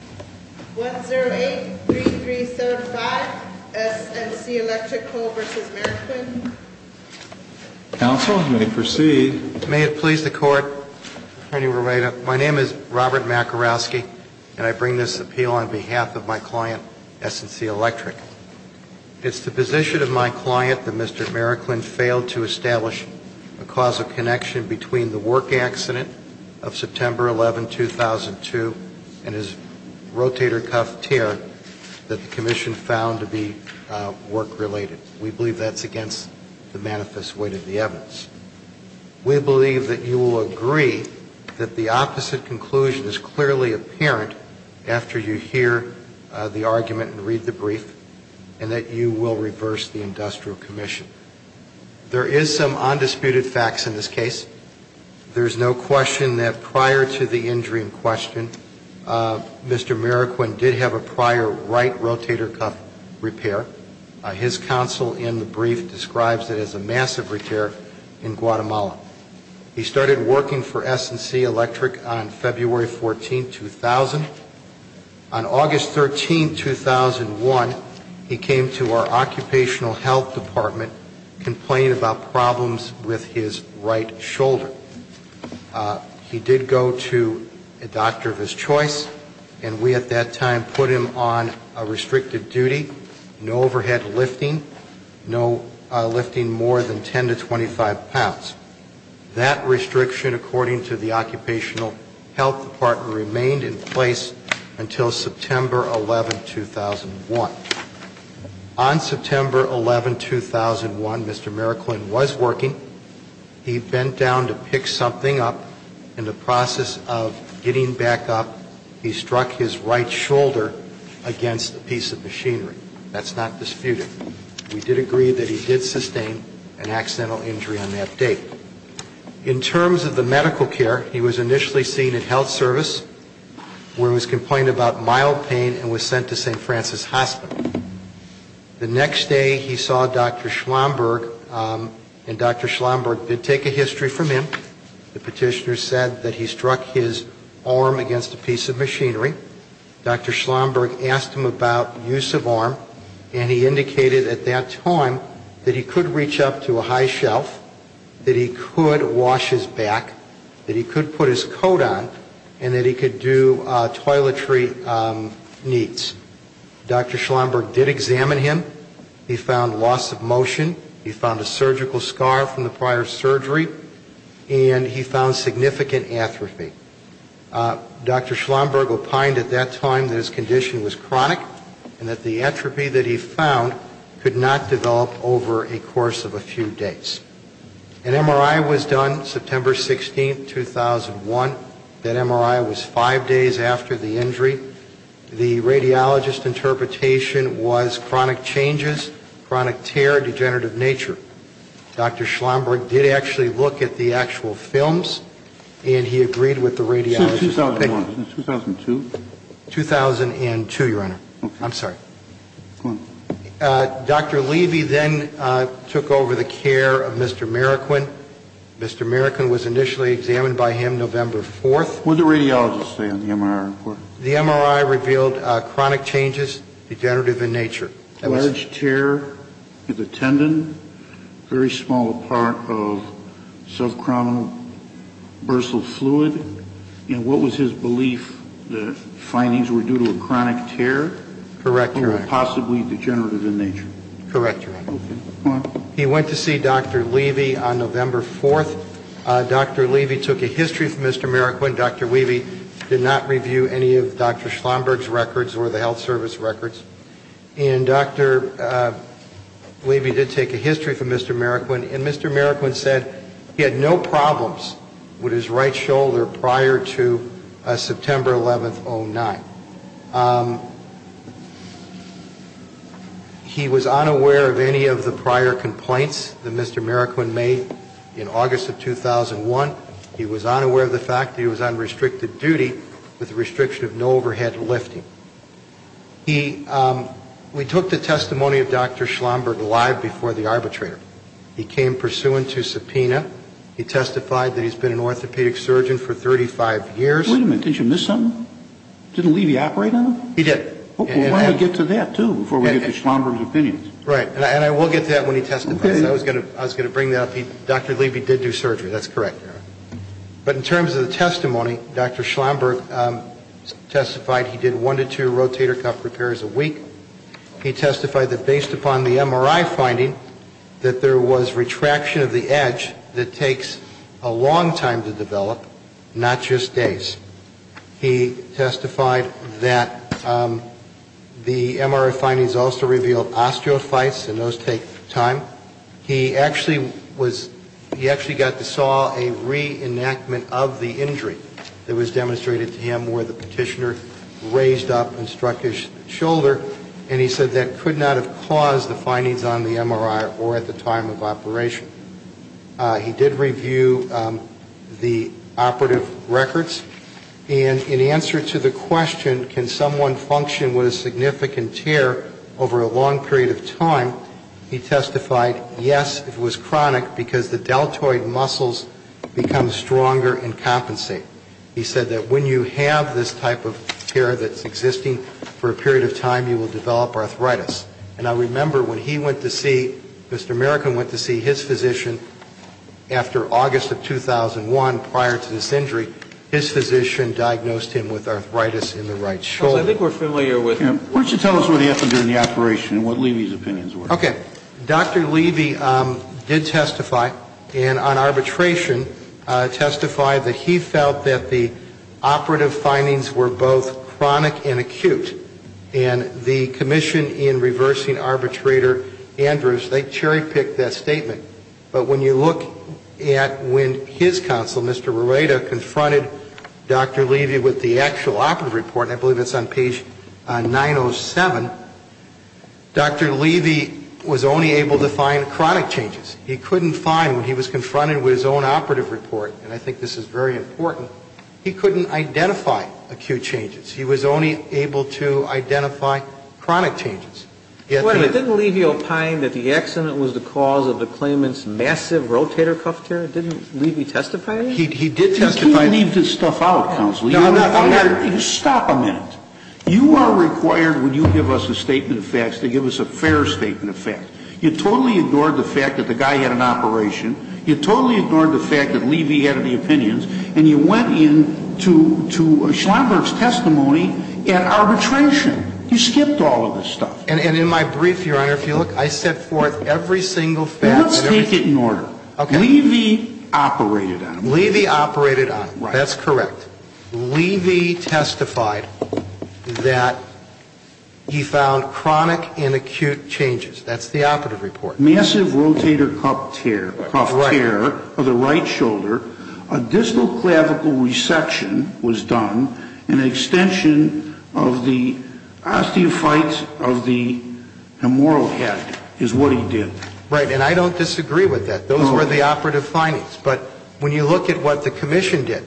1 0 8 3 3 7 5 S & C Electric Co. v. Mericlin Counsel, you may proceed. May it please the Court, Attorney Rerato, my name is Robert Makarowski, and I bring this appeal on behalf of my client, S & C Electric. It's the position of my client that Mr. Mericlin failed to establish a causal connection between the work accident of September 11, 2002, and his rotator cuff tear that the commission found to be work-related. We believe that's against the manifest weight of the evidence. We believe that you will agree that the opposite conclusion is clearly apparent after you hear the argument and read the brief, and that you will reverse the industrial commission. There is some undisputed facts in this case. There is no question that prior to the injury in question, Mr. Mericlin did have a prior right rotator cuff repair. His counsel in the brief describes it as a massive repair in Guatemala. He started working for S & C Electric on February 14, 2000. On August 13, 2001, he came to our occupational health department complaining about problems with his right shoulder. He did go to a doctor of his choice, and we at that time put him on a restricted duty, no overhead lifting, no lifting more than 10 to 25 pounds. That restriction, according to the occupational health department, remained in place until September 11, 2001. On September 11, 2001, Mr. Mericlin was working. He bent down to pick something up. In the process of getting back up, he struck his right shoulder against a piece of machinery. That's not disputed. We did agree that he did sustain an accidental injury on that date. In terms of the medical care, he was initially seen at health service where he was complaining about mild pain and was sent to St. Francis Hospital. The next day, he saw Dr. Schlomberg, and Dr. Schlomberg did take a history from him. The petitioner said that he struck his arm against a piece of machinery. Dr. Schlomberg asked him about use of arm, and he indicated at that time that he could reach up to a high shelf, that he could wash his back, that he could put his coat on, and that he could do toiletry needs. Dr. Schlomberg did examine him. He found loss of motion. He found a surgical scar from the prior surgery, and he found significant atrophy. Dr. Schlomberg opined at that time that his condition was chronic, and that the atrophy that he found could not develop over a course of a few days. An MRI was done September 16, 2001. That MRI was five days after the injury. The radiologist's interpretation was chronic changes, chronic tear, degenerative nature. Dr. Schlomberg did actually look at the actual films, and he agreed with the radiologist's opinion. Since 2001? 2002? 2002, Your Honor. Okay. I'm sorry. Go on. Dr. Levy then took over the care of Mr. Marroquin. Mr. Marroquin was initially examined by him November 4th. What did the radiologist say on the MRI report? The MRI revealed chronic changes, degenerative in nature. Large tear of the tendon, very small part of subchromic bursal fluid. And what was his belief, the findings were due to a chronic tear? Correct, Your Honor. Or possibly degenerative in nature? Correct, Your Honor. Okay. Go on. He went to see Dr. Levy on November 4th. Dr. Levy took a history from Mr. Marroquin. Dr. Levy did not review any of Dr. Schlomberg's records or the health service records. And Dr. Levy did take a history from Mr. Marroquin. And Mr. Marroquin said he had no problems with his right shoulder prior to September 11th, 2009. He was unaware of any of the prior complaints that Mr. Marroquin made in August of 2001. He was unaware of the fact that he was on restricted duty with a restriction of no overhead lifting. We took the testimony of Dr. Schlomberg live before the arbitrator. He came pursuant to subpoena. He testified that he's been an orthopedic surgeon for 35 years. Wait a minute. Did you miss something? Didn't Levy operate on him? He did. We'll get to that, too, before we get to Schlomberg's opinions. Right. And I will get to that when he testifies. I was going to bring that up. Dr. Levy did do surgery. That's correct, Your Honor. But in terms of the testimony, Dr. Schlomberg testified he did one to two rotator cuff repairs a week. He testified that based upon the MRI finding that there was retraction of the edge that takes a long time to develop, not just days. He testified that the MRI findings also revealed osteophytes, and those take time. He actually got to saw a reenactment of the injury that was demonstrated to him where the petitioner raised up and struck his shoulder, and he said that could not have caused the findings on the MRI or at the time of operation. He did review the operative records, and in answer to the question, can someone function with a significant tear over a long period of time, he testified, yes, it was chronic because the deltoid muscles become stronger and compensate. He said that when you have this type of tear that's existing for a period of time, you will develop arthritis. And I remember when he went to see, Mr. American went to see his physician after August of 2001 prior to this injury, his physician diagnosed him with arthritis in the right shoulder. So I think we're familiar with that. Why don't you tell us what happened during the operation and what Levy's opinions were. Okay. Dr. Levy did testify, and on arbitration testified that he felt that the operative findings were both chronic and acute. And the commission in reversing arbitrator Andrews, they cherry-picked that statement. But when you look at when his counsel, Mr. Rareda, confronted Dr. Levy with the actual operative report, and I believe it's on page 907, Dr. Levy was only able to find chronic changes. He couldn't find, when he was confronted with his own operative report, and I think this is very important, he couldn't identify acute changes. He was only able to identify chronic changes. Didn't Levy opine that the accident was the cause of the claimant's massive rotator cuff tear? Didn't Levy testify? He did testify. He leaved his stuff out, counsel. Stop a minute. You are required when you give us a statement of facts to give us a fair statement of facts. You totally ignored the fact that the guy had an operation. You totally ignored the fact that Levy had any opinions. And you went in to Schlumberg's testimony at arbitration. You skipped all of this stuff. And in my brief, Your Honor, if you look, I set forth every single fact. Let's take it in order. Levy operated on it. Levy operated on it. That's correct. Levy testified that he found chronic and acute changes. That's the operative report. Massive rotator cuff tear of the right shoulder, a distal clavicle resection was done, an extension of the osteophytes of the hemorrhoid head is what he did. Right. And I don't disagree with that. Those were the operative findings. But when you look at what the commission did,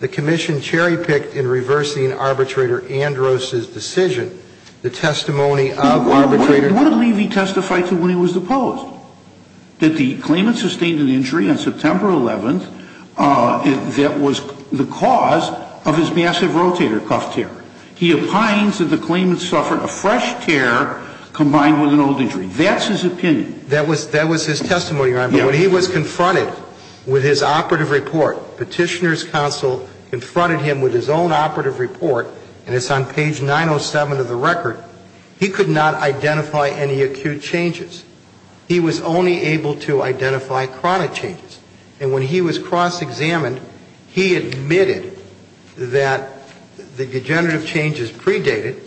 the commission cherry-picked in reversing Arbitrator Andros' decision, the testimony of arbitrator. What did Levy testify to when he was deposed? That the claimant sustained an injury on September 11th that was the cause of his massive rotator cuff tear. He opines that the claimant suffered a fresh tear combined with an old injury. That's his opinion. That was his testimony, Your Honor. But when he was confronted with his operative report, petitioner's counsel confronted him with his own operative report, and it's on page 907 of the record, he could not identify any acute changes. He was only able to identify chronic changes. And when he was cross-examined, he admitted that the degenerative changes predated.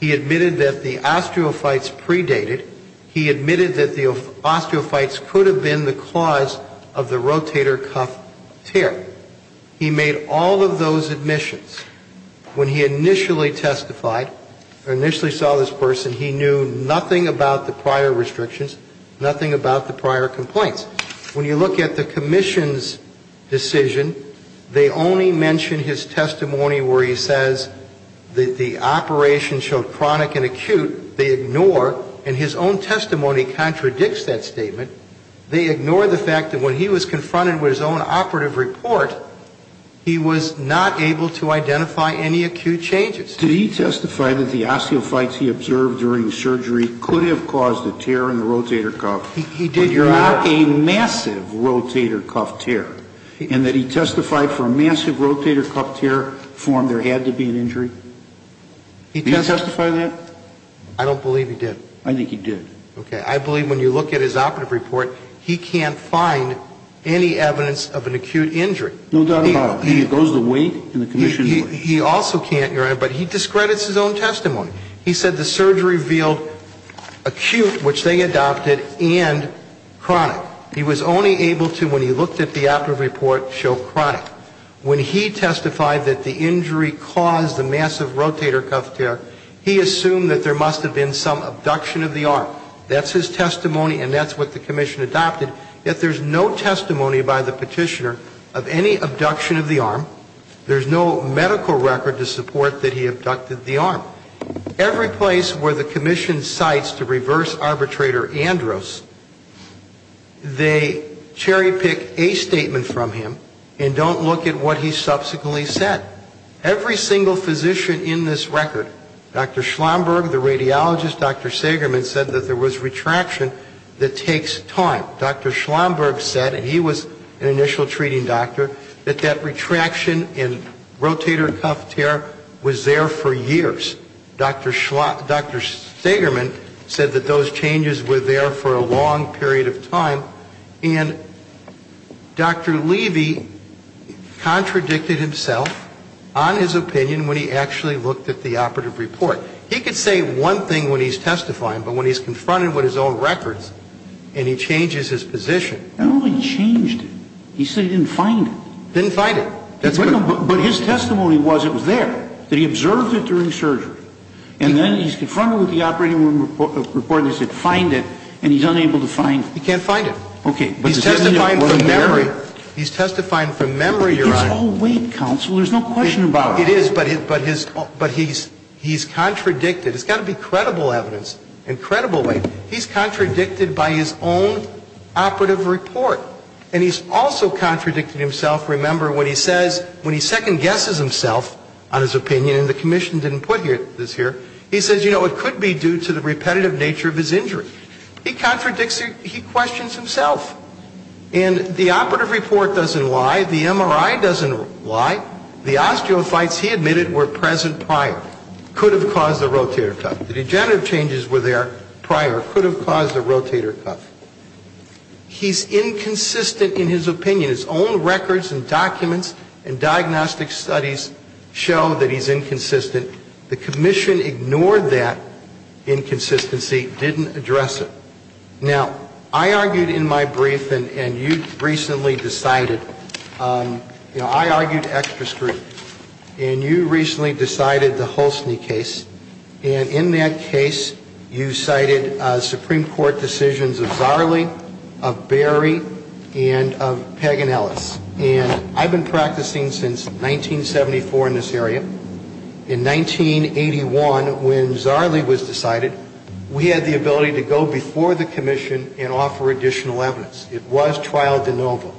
He admitted that the osteophytes predated. He admitted that the osteophytes could have been the cause of the rotator cuff tear. He made all of those admissions. When he initially testified, or initially saw this person, he knew nothing about the prior restrictions, nothing about the prior complaints. When you look at the commission's decision, they only mention his testimony where he says the operation showed chronic and acute. They ignore, and his own testimony contradicts that statement. They ignore the fact that when he was confronted with his own operative report, he was not able to identify any acute changes. Did he testify that the osteophytes he observed during surgery could have caused a tear in the rotator cuff? He did, Your Honor. But not a massive rotator cuff tear? And that he testified for a massive rotator cuff tear formed there had to be an injury? Did he testify that? I don't believe he did. I think he did. Okay. I believe when you look at his operative report, he can't find any evidence of an acute injury. No doubt about it. He goes the way the commission went. He also can't, Your Honor, but he discredits his own testimony. He said the surgery revealed acute, which they adopted, and chronic. He was only able to, when he looked at the operative report, show chronic. When he testified that the injury caused the massive rotator cuff tear, he assumed that there must have been some abduction of the arm. That's his testimony, and that's what the commission adopted. Yet there's no testimony by the petitioner of any abduction of the arm. There's no medical record to support that he abducted the arm. Every place where the commission cites to reverse arbitrator Andros, they cherry-pick a statement from him and don't look at what he subsequently said. Every single physician in this record, Dr. Schlomberg, the radiologist, Dr. Sagerman, said that there was retraction that takes time. Dr. Schlomberg said, and he was an initial treating doctor, that that retraction and rotator cuff tear was there for years. Dr. Sagerman said that those changes were there for a long period of time. And Dr. Levy contradicted himself on his opinion when he actually looked at the operative report. He could say one thing when he's testifying, but when he's confronted with his own records and he changes his position. He only changed it. He said he didn't find it. Didn't find it. But his testimony was it was there, that he observed it during surgery. And then he's confronted with the operative report and he said find it, and he's unable to find it. He can't find it. Okay. He's testifying from memory. He's testifying from memory, Your Honor. It's all weight, counsel. There's no question about it. It is, but he's contradicted. It's got to be credible evidence in a credible way. He's contradicted by his own operative report. And he's also contradicted himself, remember, when he says, when he second guesses himself on his opinion, and the commission didn't put this here, he says, you know, it could be due to the repetitive nature of his injury. He contradicts, he questions himself. And the operative report doesn't lie. The MRI doesn't lie. The osteophytes he admitted were present prior. Could have caused the rotator cuff. The degenerative changes were there prior. Could have caused the rotator cuff. He's inconsistent in his opinion. His own records and documents and diagnostic studies show that he's inconsistent. The commission ignored that inconsistency, didn't address it. Now, I argued in my brief, and you recently decided, you know, I argued extra scrutiny. And you recently decided the Holstny case. And in that case, you cited Supreme Court decisions of Zarley, of Berry, and of Paganellis. And I've been practicing since 1974 in this area. In 1981, when Zarley was decided, we had the ability to go before the commission and offer additional evidence. It was trial de novo.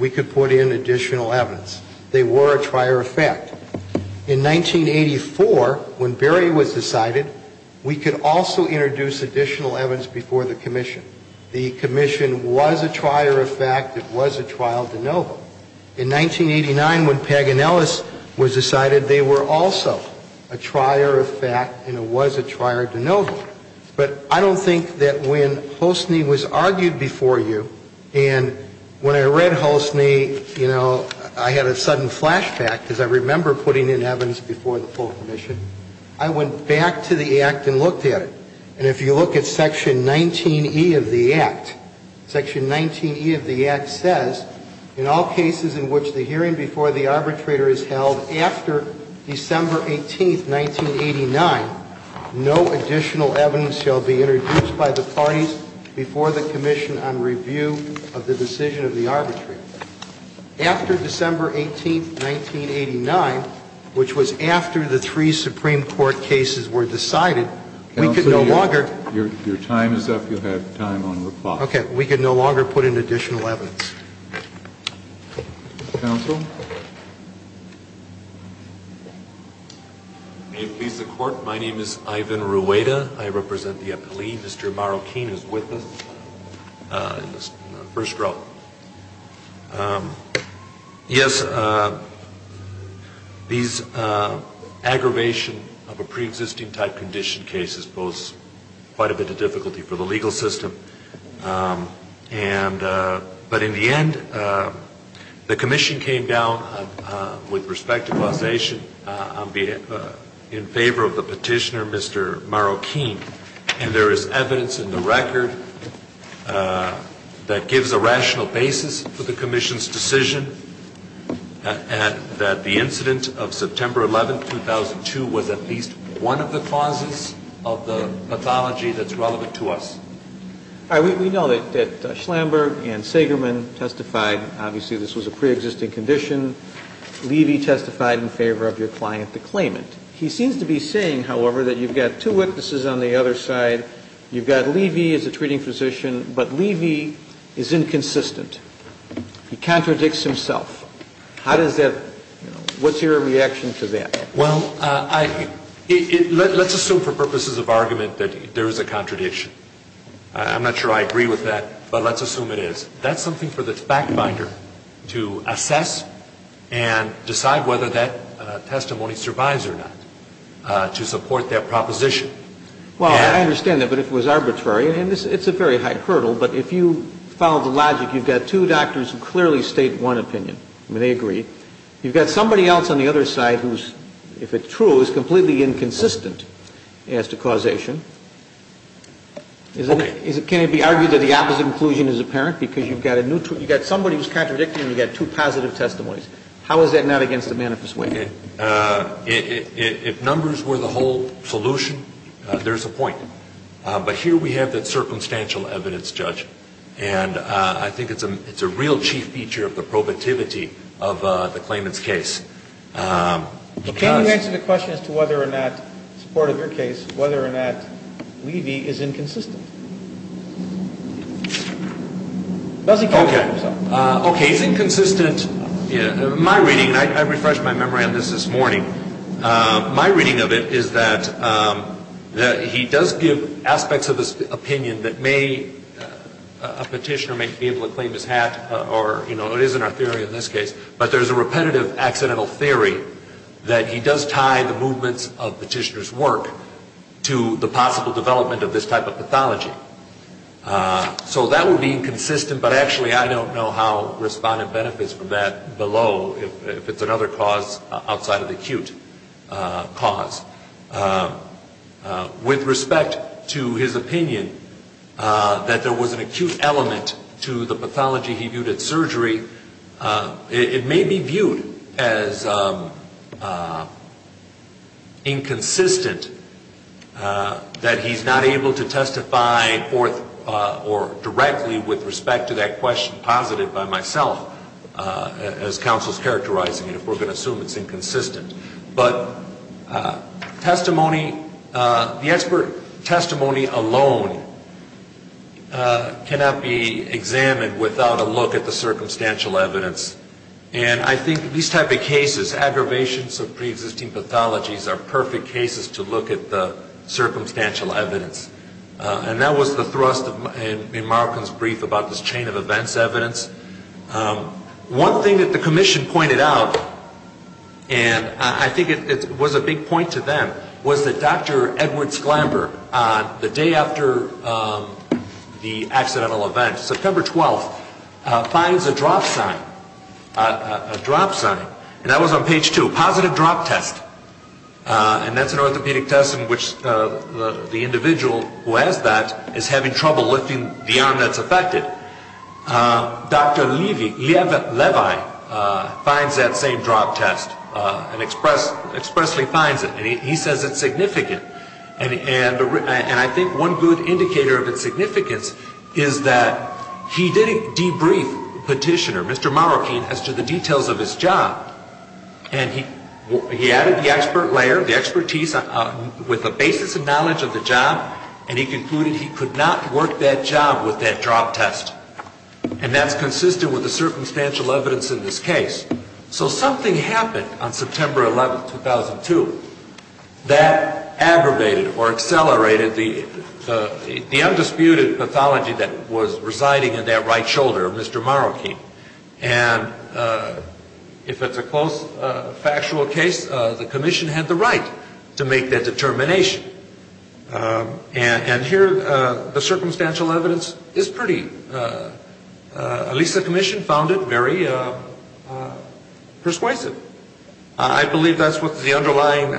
We could put in additional evidence. They were a trier effect. In 1984, when Berry was decided, we could also introduce additional evidence before the commission. The commission was a trier effect. It was a trial de novo. In 1989, when Paganellis was decided, they were also a trier effect, and it was a trier de novo. But I don't think that when Holstny was argued before you, and when I read Holstny, you know, I had a sudden flashback, because I remember putting in evidence before the full commission. I went back to the Act and looked at it. And if you look at Section 19E of the Act, Section 19E of the Act says, in all cases in which the hearing before the arbitrator is held after December 18, 1989, no additional evidence shall be introduced by the parties before the commission on review of the decision of the arbitrator. After December 18, 1989, which was after the three Supreme Court cases were decided, we could no longer – Counsel, your time is up. You have time on the clock. Okay. We could no longer put in additional evidence. Counsel? May it please the Court, my name is Ivan Rueda. I represent the appellee. Mr. Marroquin is with us in the first row. Yes, these aggravation of a preexisting type condition case is quite a bit of difficulty for the legal system. But in the end, the commission came down with respect to causation in favor of the petitioner, Mr. Marroquin. And there is evidence in the record that gives a rational basis for the commission's decision, and that the incident of September 11, 2002 was at least one of the causes of the pathology that's relevant to us. We know that Schlamberg and Segerman testified, obviously this was a preexisting condition. Levy testified in favor of your client, the claimant. He seems to be saying, however, that you've got two witnesses on the other side. You've got Levy as a treating physician, but Levy is inconsistent. He contradicts himself. How does that – what's your reaction to that? Well, let's assume for purposes of argument that there is a contradiction. I'm not sure I agree with that, but let's assume it is. That's something for the fact finder to assess and decide whether that testimony survives or not, to support their proposition. Well, I understand that, but it was arbitrary. And it's a very high hurdle, but if you follow the logic, you've got two doctors who clearly state one opinion. I mean, they agree. You've got somebody else on the other side who's, if it's true, is completely inconsistent as to causation. Okay. Can it be argued that the opposite inclusion is apparent? Because you've got somebody who's contradicting and you've got two positive testimonies. How is that not against the manifest way? If numbers were the whole solution, there's a point. But here we have that circumstantial evidence, Judge. And I think it's a real chief feature of the probativity of the claimant's case. Can you answer the question as to whether or not, in support of your case, whether or not Levy is inconsistent? Okay. He's inconsistent. My reading, and I refreshed my memory on this this morning, my reading of it is that he does give aspects of his opinion that may, a petitioner may be able to claim his hat or, you know, it is in our theory in this case. But there's a repetitive accidental theory that he does tie the movements of petitioner's work to the possible development of this type of pathology. So that would be inconsistent, but actually I don't know how respondent benefits from that below, if it's another cause outside of the acute cause. With respect to his opinion that there was an acute element to the pathology he viewed at surgery, it may be viewed as inconsistent that he's not able to testify forth or directly with respect to that question posited by myself, as counsel is characterizing it, if we're going to assume it's inconsistent. But testimony, the expert testimony alone cannot be examined without a look at the circumstantial evidence. And I think these type of cases, aggravations of preexisting pathologies, are perfect cases to look at the circumstantial evidence. And that was the thrust in Markham's brief about this chain of events evidence. One thing that the commission pointed out, and I think it was a big point to them, was that Dr. Edwards Glamber, the day after the accidental event, September 12th, finds a drop sign, a drop sign. And that was on page two, positive drop test. And that's an orthopedic test in which the individual who has that is having trouble lifting the arm that's affected. Dr. Levi finds that same drop test and expressly finds it. And he says it's significant. And I think one good indicator of its significance is that he did debrief Petitioner, Mr. Marroquin, as to the details of his job. And he added the expert layer, the expertise with a basis of knowledge of the job, and he concluded he could not work that job with that drop test. And that's consistent with the circumstantial evidence in this case. So something happened on September 11th, 2002 that aggravated or accelerated the undisputed pathology that was residing in that right shoulder of Mr. Marroquin. And if it's a close factual case, the commission had the right to make that determination. And here the circumstantial evidence is pretty, at least the commission found it, very persuasive. I believe that's what the underlying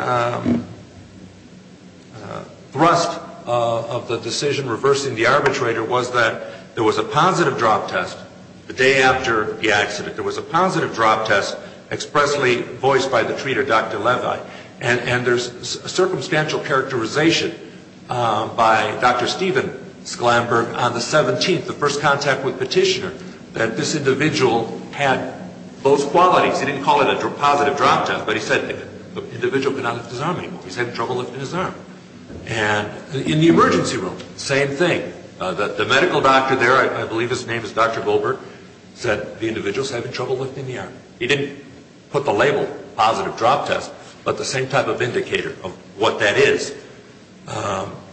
thrust of the decision reversing the arbitrator was that there was a positive drop test the day after the accident. There was a positive drop test expressly voiced by the treater, Dr. Levi. And there's a circumstantial characterization by Dr. Steven Sklamberg on the 17th, the first contact with Petitioner, that this individual had both qualities. He didn't call it a positive drop test, but he said the individual could not lift his arm anymore. He's having trouble lifting his arm. And in the emergency room, same thing. The medical doctor there, I believe his name is Dr. Goldberg, said the individual's having trouble lifting the arm. He didn't put the label positive drop test, but the same type of indicator of what that is.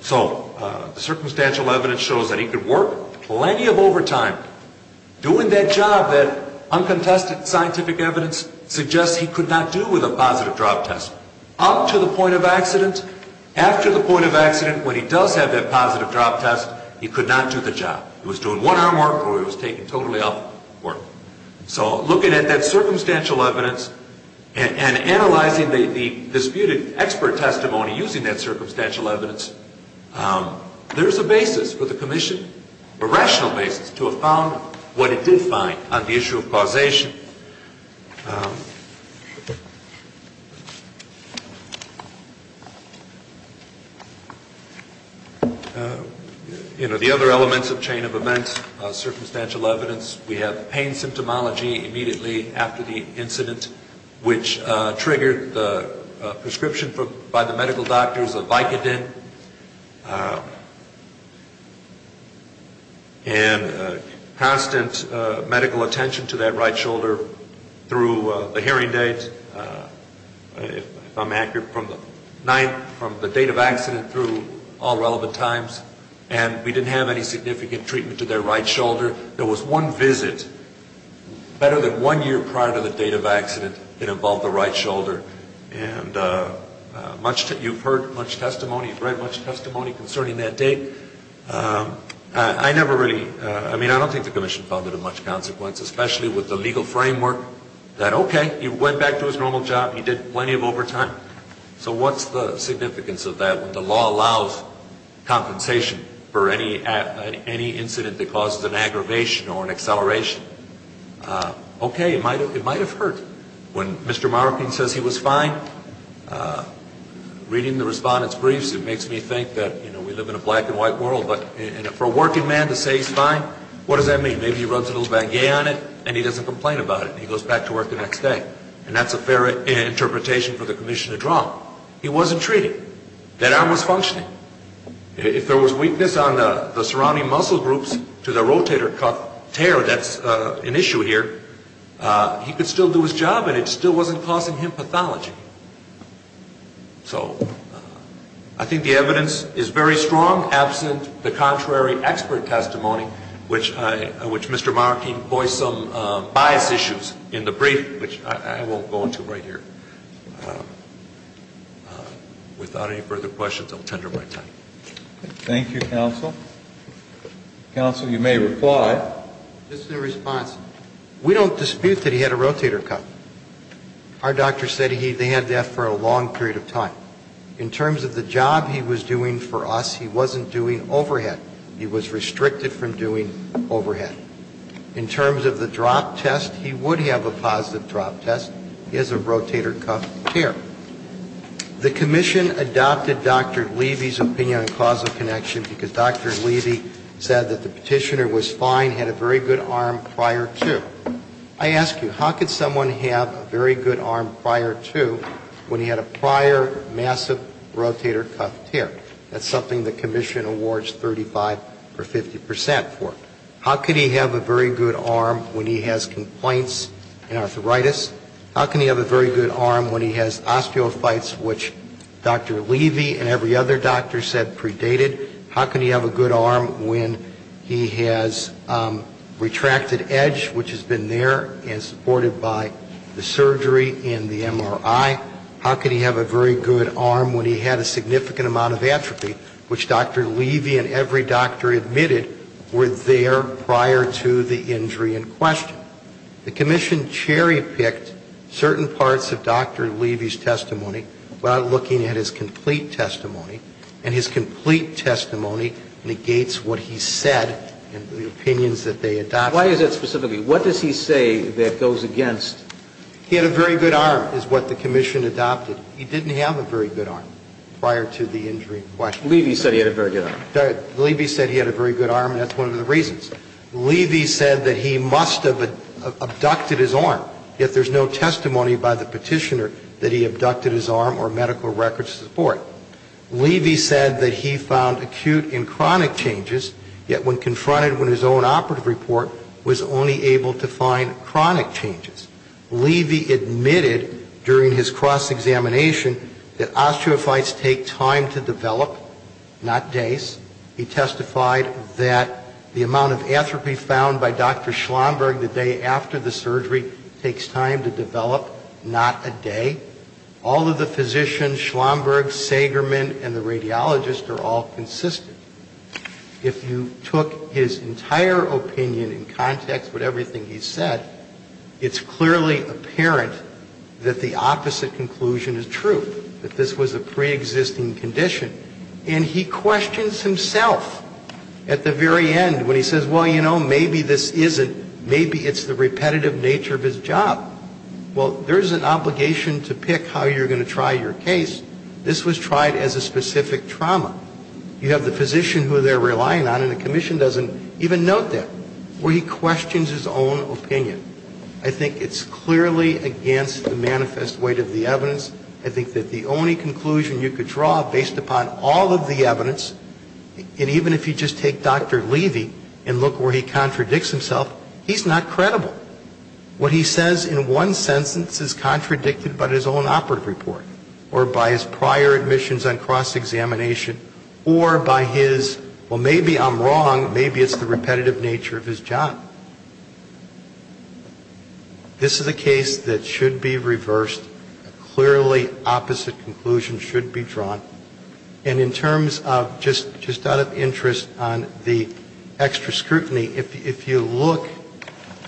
So the circumstantial evidence shows that he could work plenty of overtime doing that job that uncontested scientific evidence suggests he could not do with a positive drop test. Up to the point of accident, after the point of accident, when he does have that positive drop test, he could not do the job. He was doing one-arm work or he was taking totally off work. So looking at that circumstantial evidence and analyzing the disputed expert testimony using that circumstantial evidence, there's a basis for the commission, a rational basis to have found what it did find on the issue of causation. You know, the other elements of chain of events, circumstantial evidence, we have pain symptomology immediately after the incident, which triggered the prescription by the medical doctors, a Vicodin. And constant medical attention to that right shoulder. Through the hearing date, if I'm accurate, from the 9th, from the date of accident through all relevant times. And we didn't have any significant treatment to their right shoulder. There was one visit, better than one year prior to the date of accident, that involved the right shoulder. And you've heard much testimony, you've read much testimony concerning that date. I never really, I mean, I don't think the commission found it of much consequence, especially with the legal framework that, okay, he went back to his normal job, he did plenty of overtime. So what's the significance of that when the law allows compensation for any incident that causes an aggravation or an acceleration? Okay, it might have hurt. When Mr. Marroquin says he was fine, reading the respondent's briefs, it makes me think that, you know, we live in a black and white world, but for a working man to say he's fine, what does that mean? Maybe he runs a little baguette on it, and he doesn't complain about it, and he goes back to work the next day. And that's a fair interpretation for the commission to draw. He wasn't treated. That arm was functioning. If there was weakness on the surrounding muscle groups to the rotator cuff tear, that's an issue here, he could still do his job, and it still wasn't causing him pathology. So I think the evidence is very strong, absent the contrary expert testimony, which Mr. Marroquin voiced some bias issues in the brief, which I won't go into right here. Without any further questions, I'll tender my time. Thank you, counsel. Counsel, you may reply. Just in response, we don't dispute that he had a rotator cuff. Our doctor said he had that for a long period of time. In terms of the job he was doing for us, he wasn't doing overhead. He was restricted from doing overhead. In terms of the drop test, he would have a positive drop test. He has a rotator cuff tear. The commission adopted Dr. Levy's opinion on causal connection, because Dr. Levy said that the petitioner was fine, had a very good arm prior to. I ask you, how could someone have a very good arm prior to when he had a prior massive rotator cuff tear? That's something the commission awards 35% or 50% for. How could he have a very good arm when he has complaints and arthritis? How can he have a very good arm when he has osteophytes, which Dr. Levy and every other doctor said predated? How can he have a good arm when he has retracted edge, which has been there and supported by the surgery and the MRI? How can he have a very good arm when he had a significant amount of atrophy, which Dr. Levy and every doctor admitted were there prior to the injury in question? Now, the commission cherry-picked certain parts of Dr. Levy's testimony without looking at his complete testimony, and his complete testimony negates what he said and the opinions that they adopted. Why is that specifically? What does he say that goes against? He had a very good arm, is what the commission adopted. He didn't have a very good arm prior to the injury in question. Levy said he had a very good arm. Levy said he had a very good arm, and that's one of the reasons. Levy said that he must have abducted his arm, yet there's no testimony by the petitioner that he abducted his arm or medical records support. Levy said that he found acute and chronic changes, yet when confronted with his own operative report, was only able to find chronic changes. Levy admitted during his cross-examination that osteophytes take time to develop, not days. He testified that the amount of athropy found by Dr. Schlomberg the day after the surgery takes time to develop, not a day. All of the physicians, Schlomberg, Sagerman, and the radiologist are all consistent. If you took his entire opinion in context with everything he said, it's clearly apparent that the opposite conclusion is true, that this was a preexisting condition. And he questions himself at the very end when he says, well, you know, maybe this isn't, maybe it's the repetitive nature of his job. Well, there's an obligation to pick how you're going to try your case. This was tried as a specific trauma. You have the physician who they're relying on, and the commission doesn't even note that, where he questions his own opinion. I think it's clearly against the manifest weight of the evidence. I think that the only conclusion you could draw based upon all of the evidence, and even if you just take Dr. Levy and look where he contradicts himself, he's not credible. What he says in one sentence is contradicted by his own operative report or by his prior admissions on cross-examination or by his, well, maybe I'm wrong, maybe it's the repetitive nature of his job. This is a case that should be reversed. A clearly opposite conclusion should be drawn. And in terms of just out of interest on the extra scrutiny, if you look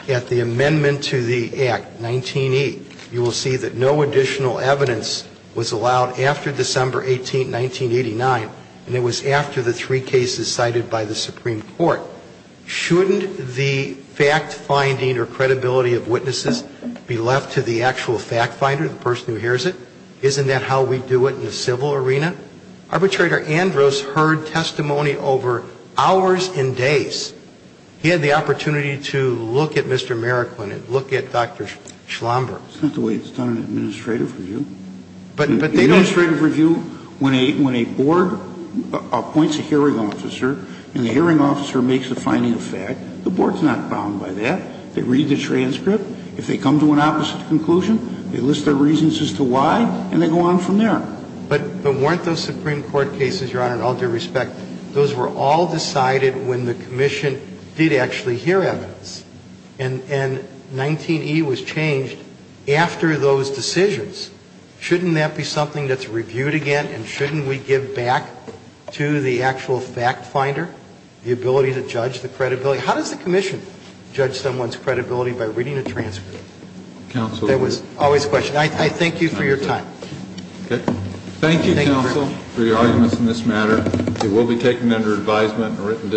at the amendment to the Act, 19E, you will see that no additional evidence was allowed after December 18, 1989, and it was after the three cases cited by the Supreme Court. Now, shouldn't the fact-finding or credibility of witnesses be left to the actual fact-finder, the person who hears it? Isn't that how we do it in the civil arena? Arbitrator Andrews heard testimony over hours and days. He had the opportunity to look at Mr. Meriklin and look at Dr. Schlomberg. It's not the way it's done in administrative review. In administrative review, when a board appoints a hearing officer and the hearing officer makes a finding of fact, the board is not bound by that. They read the transcript. If they come to an opposite conclusion, they list their reasons as to why, and they go on from there. But weren't those Supreme Court cases, Your Honor, all due respect, those were all decided when the commission did actually hear evidence, and 19E was changed after those decisions. Shouldn't that be something that's reviewed again, and shouldn't we give back to the actual fact-finder the ability to judge the credibility? How does the commission judge someone's credibility by reading a transcript? Counsel. That was always a question. I thank you for your time. Okay. Thank you, counsel, for your arguments in this matter. It will be taken under advisement.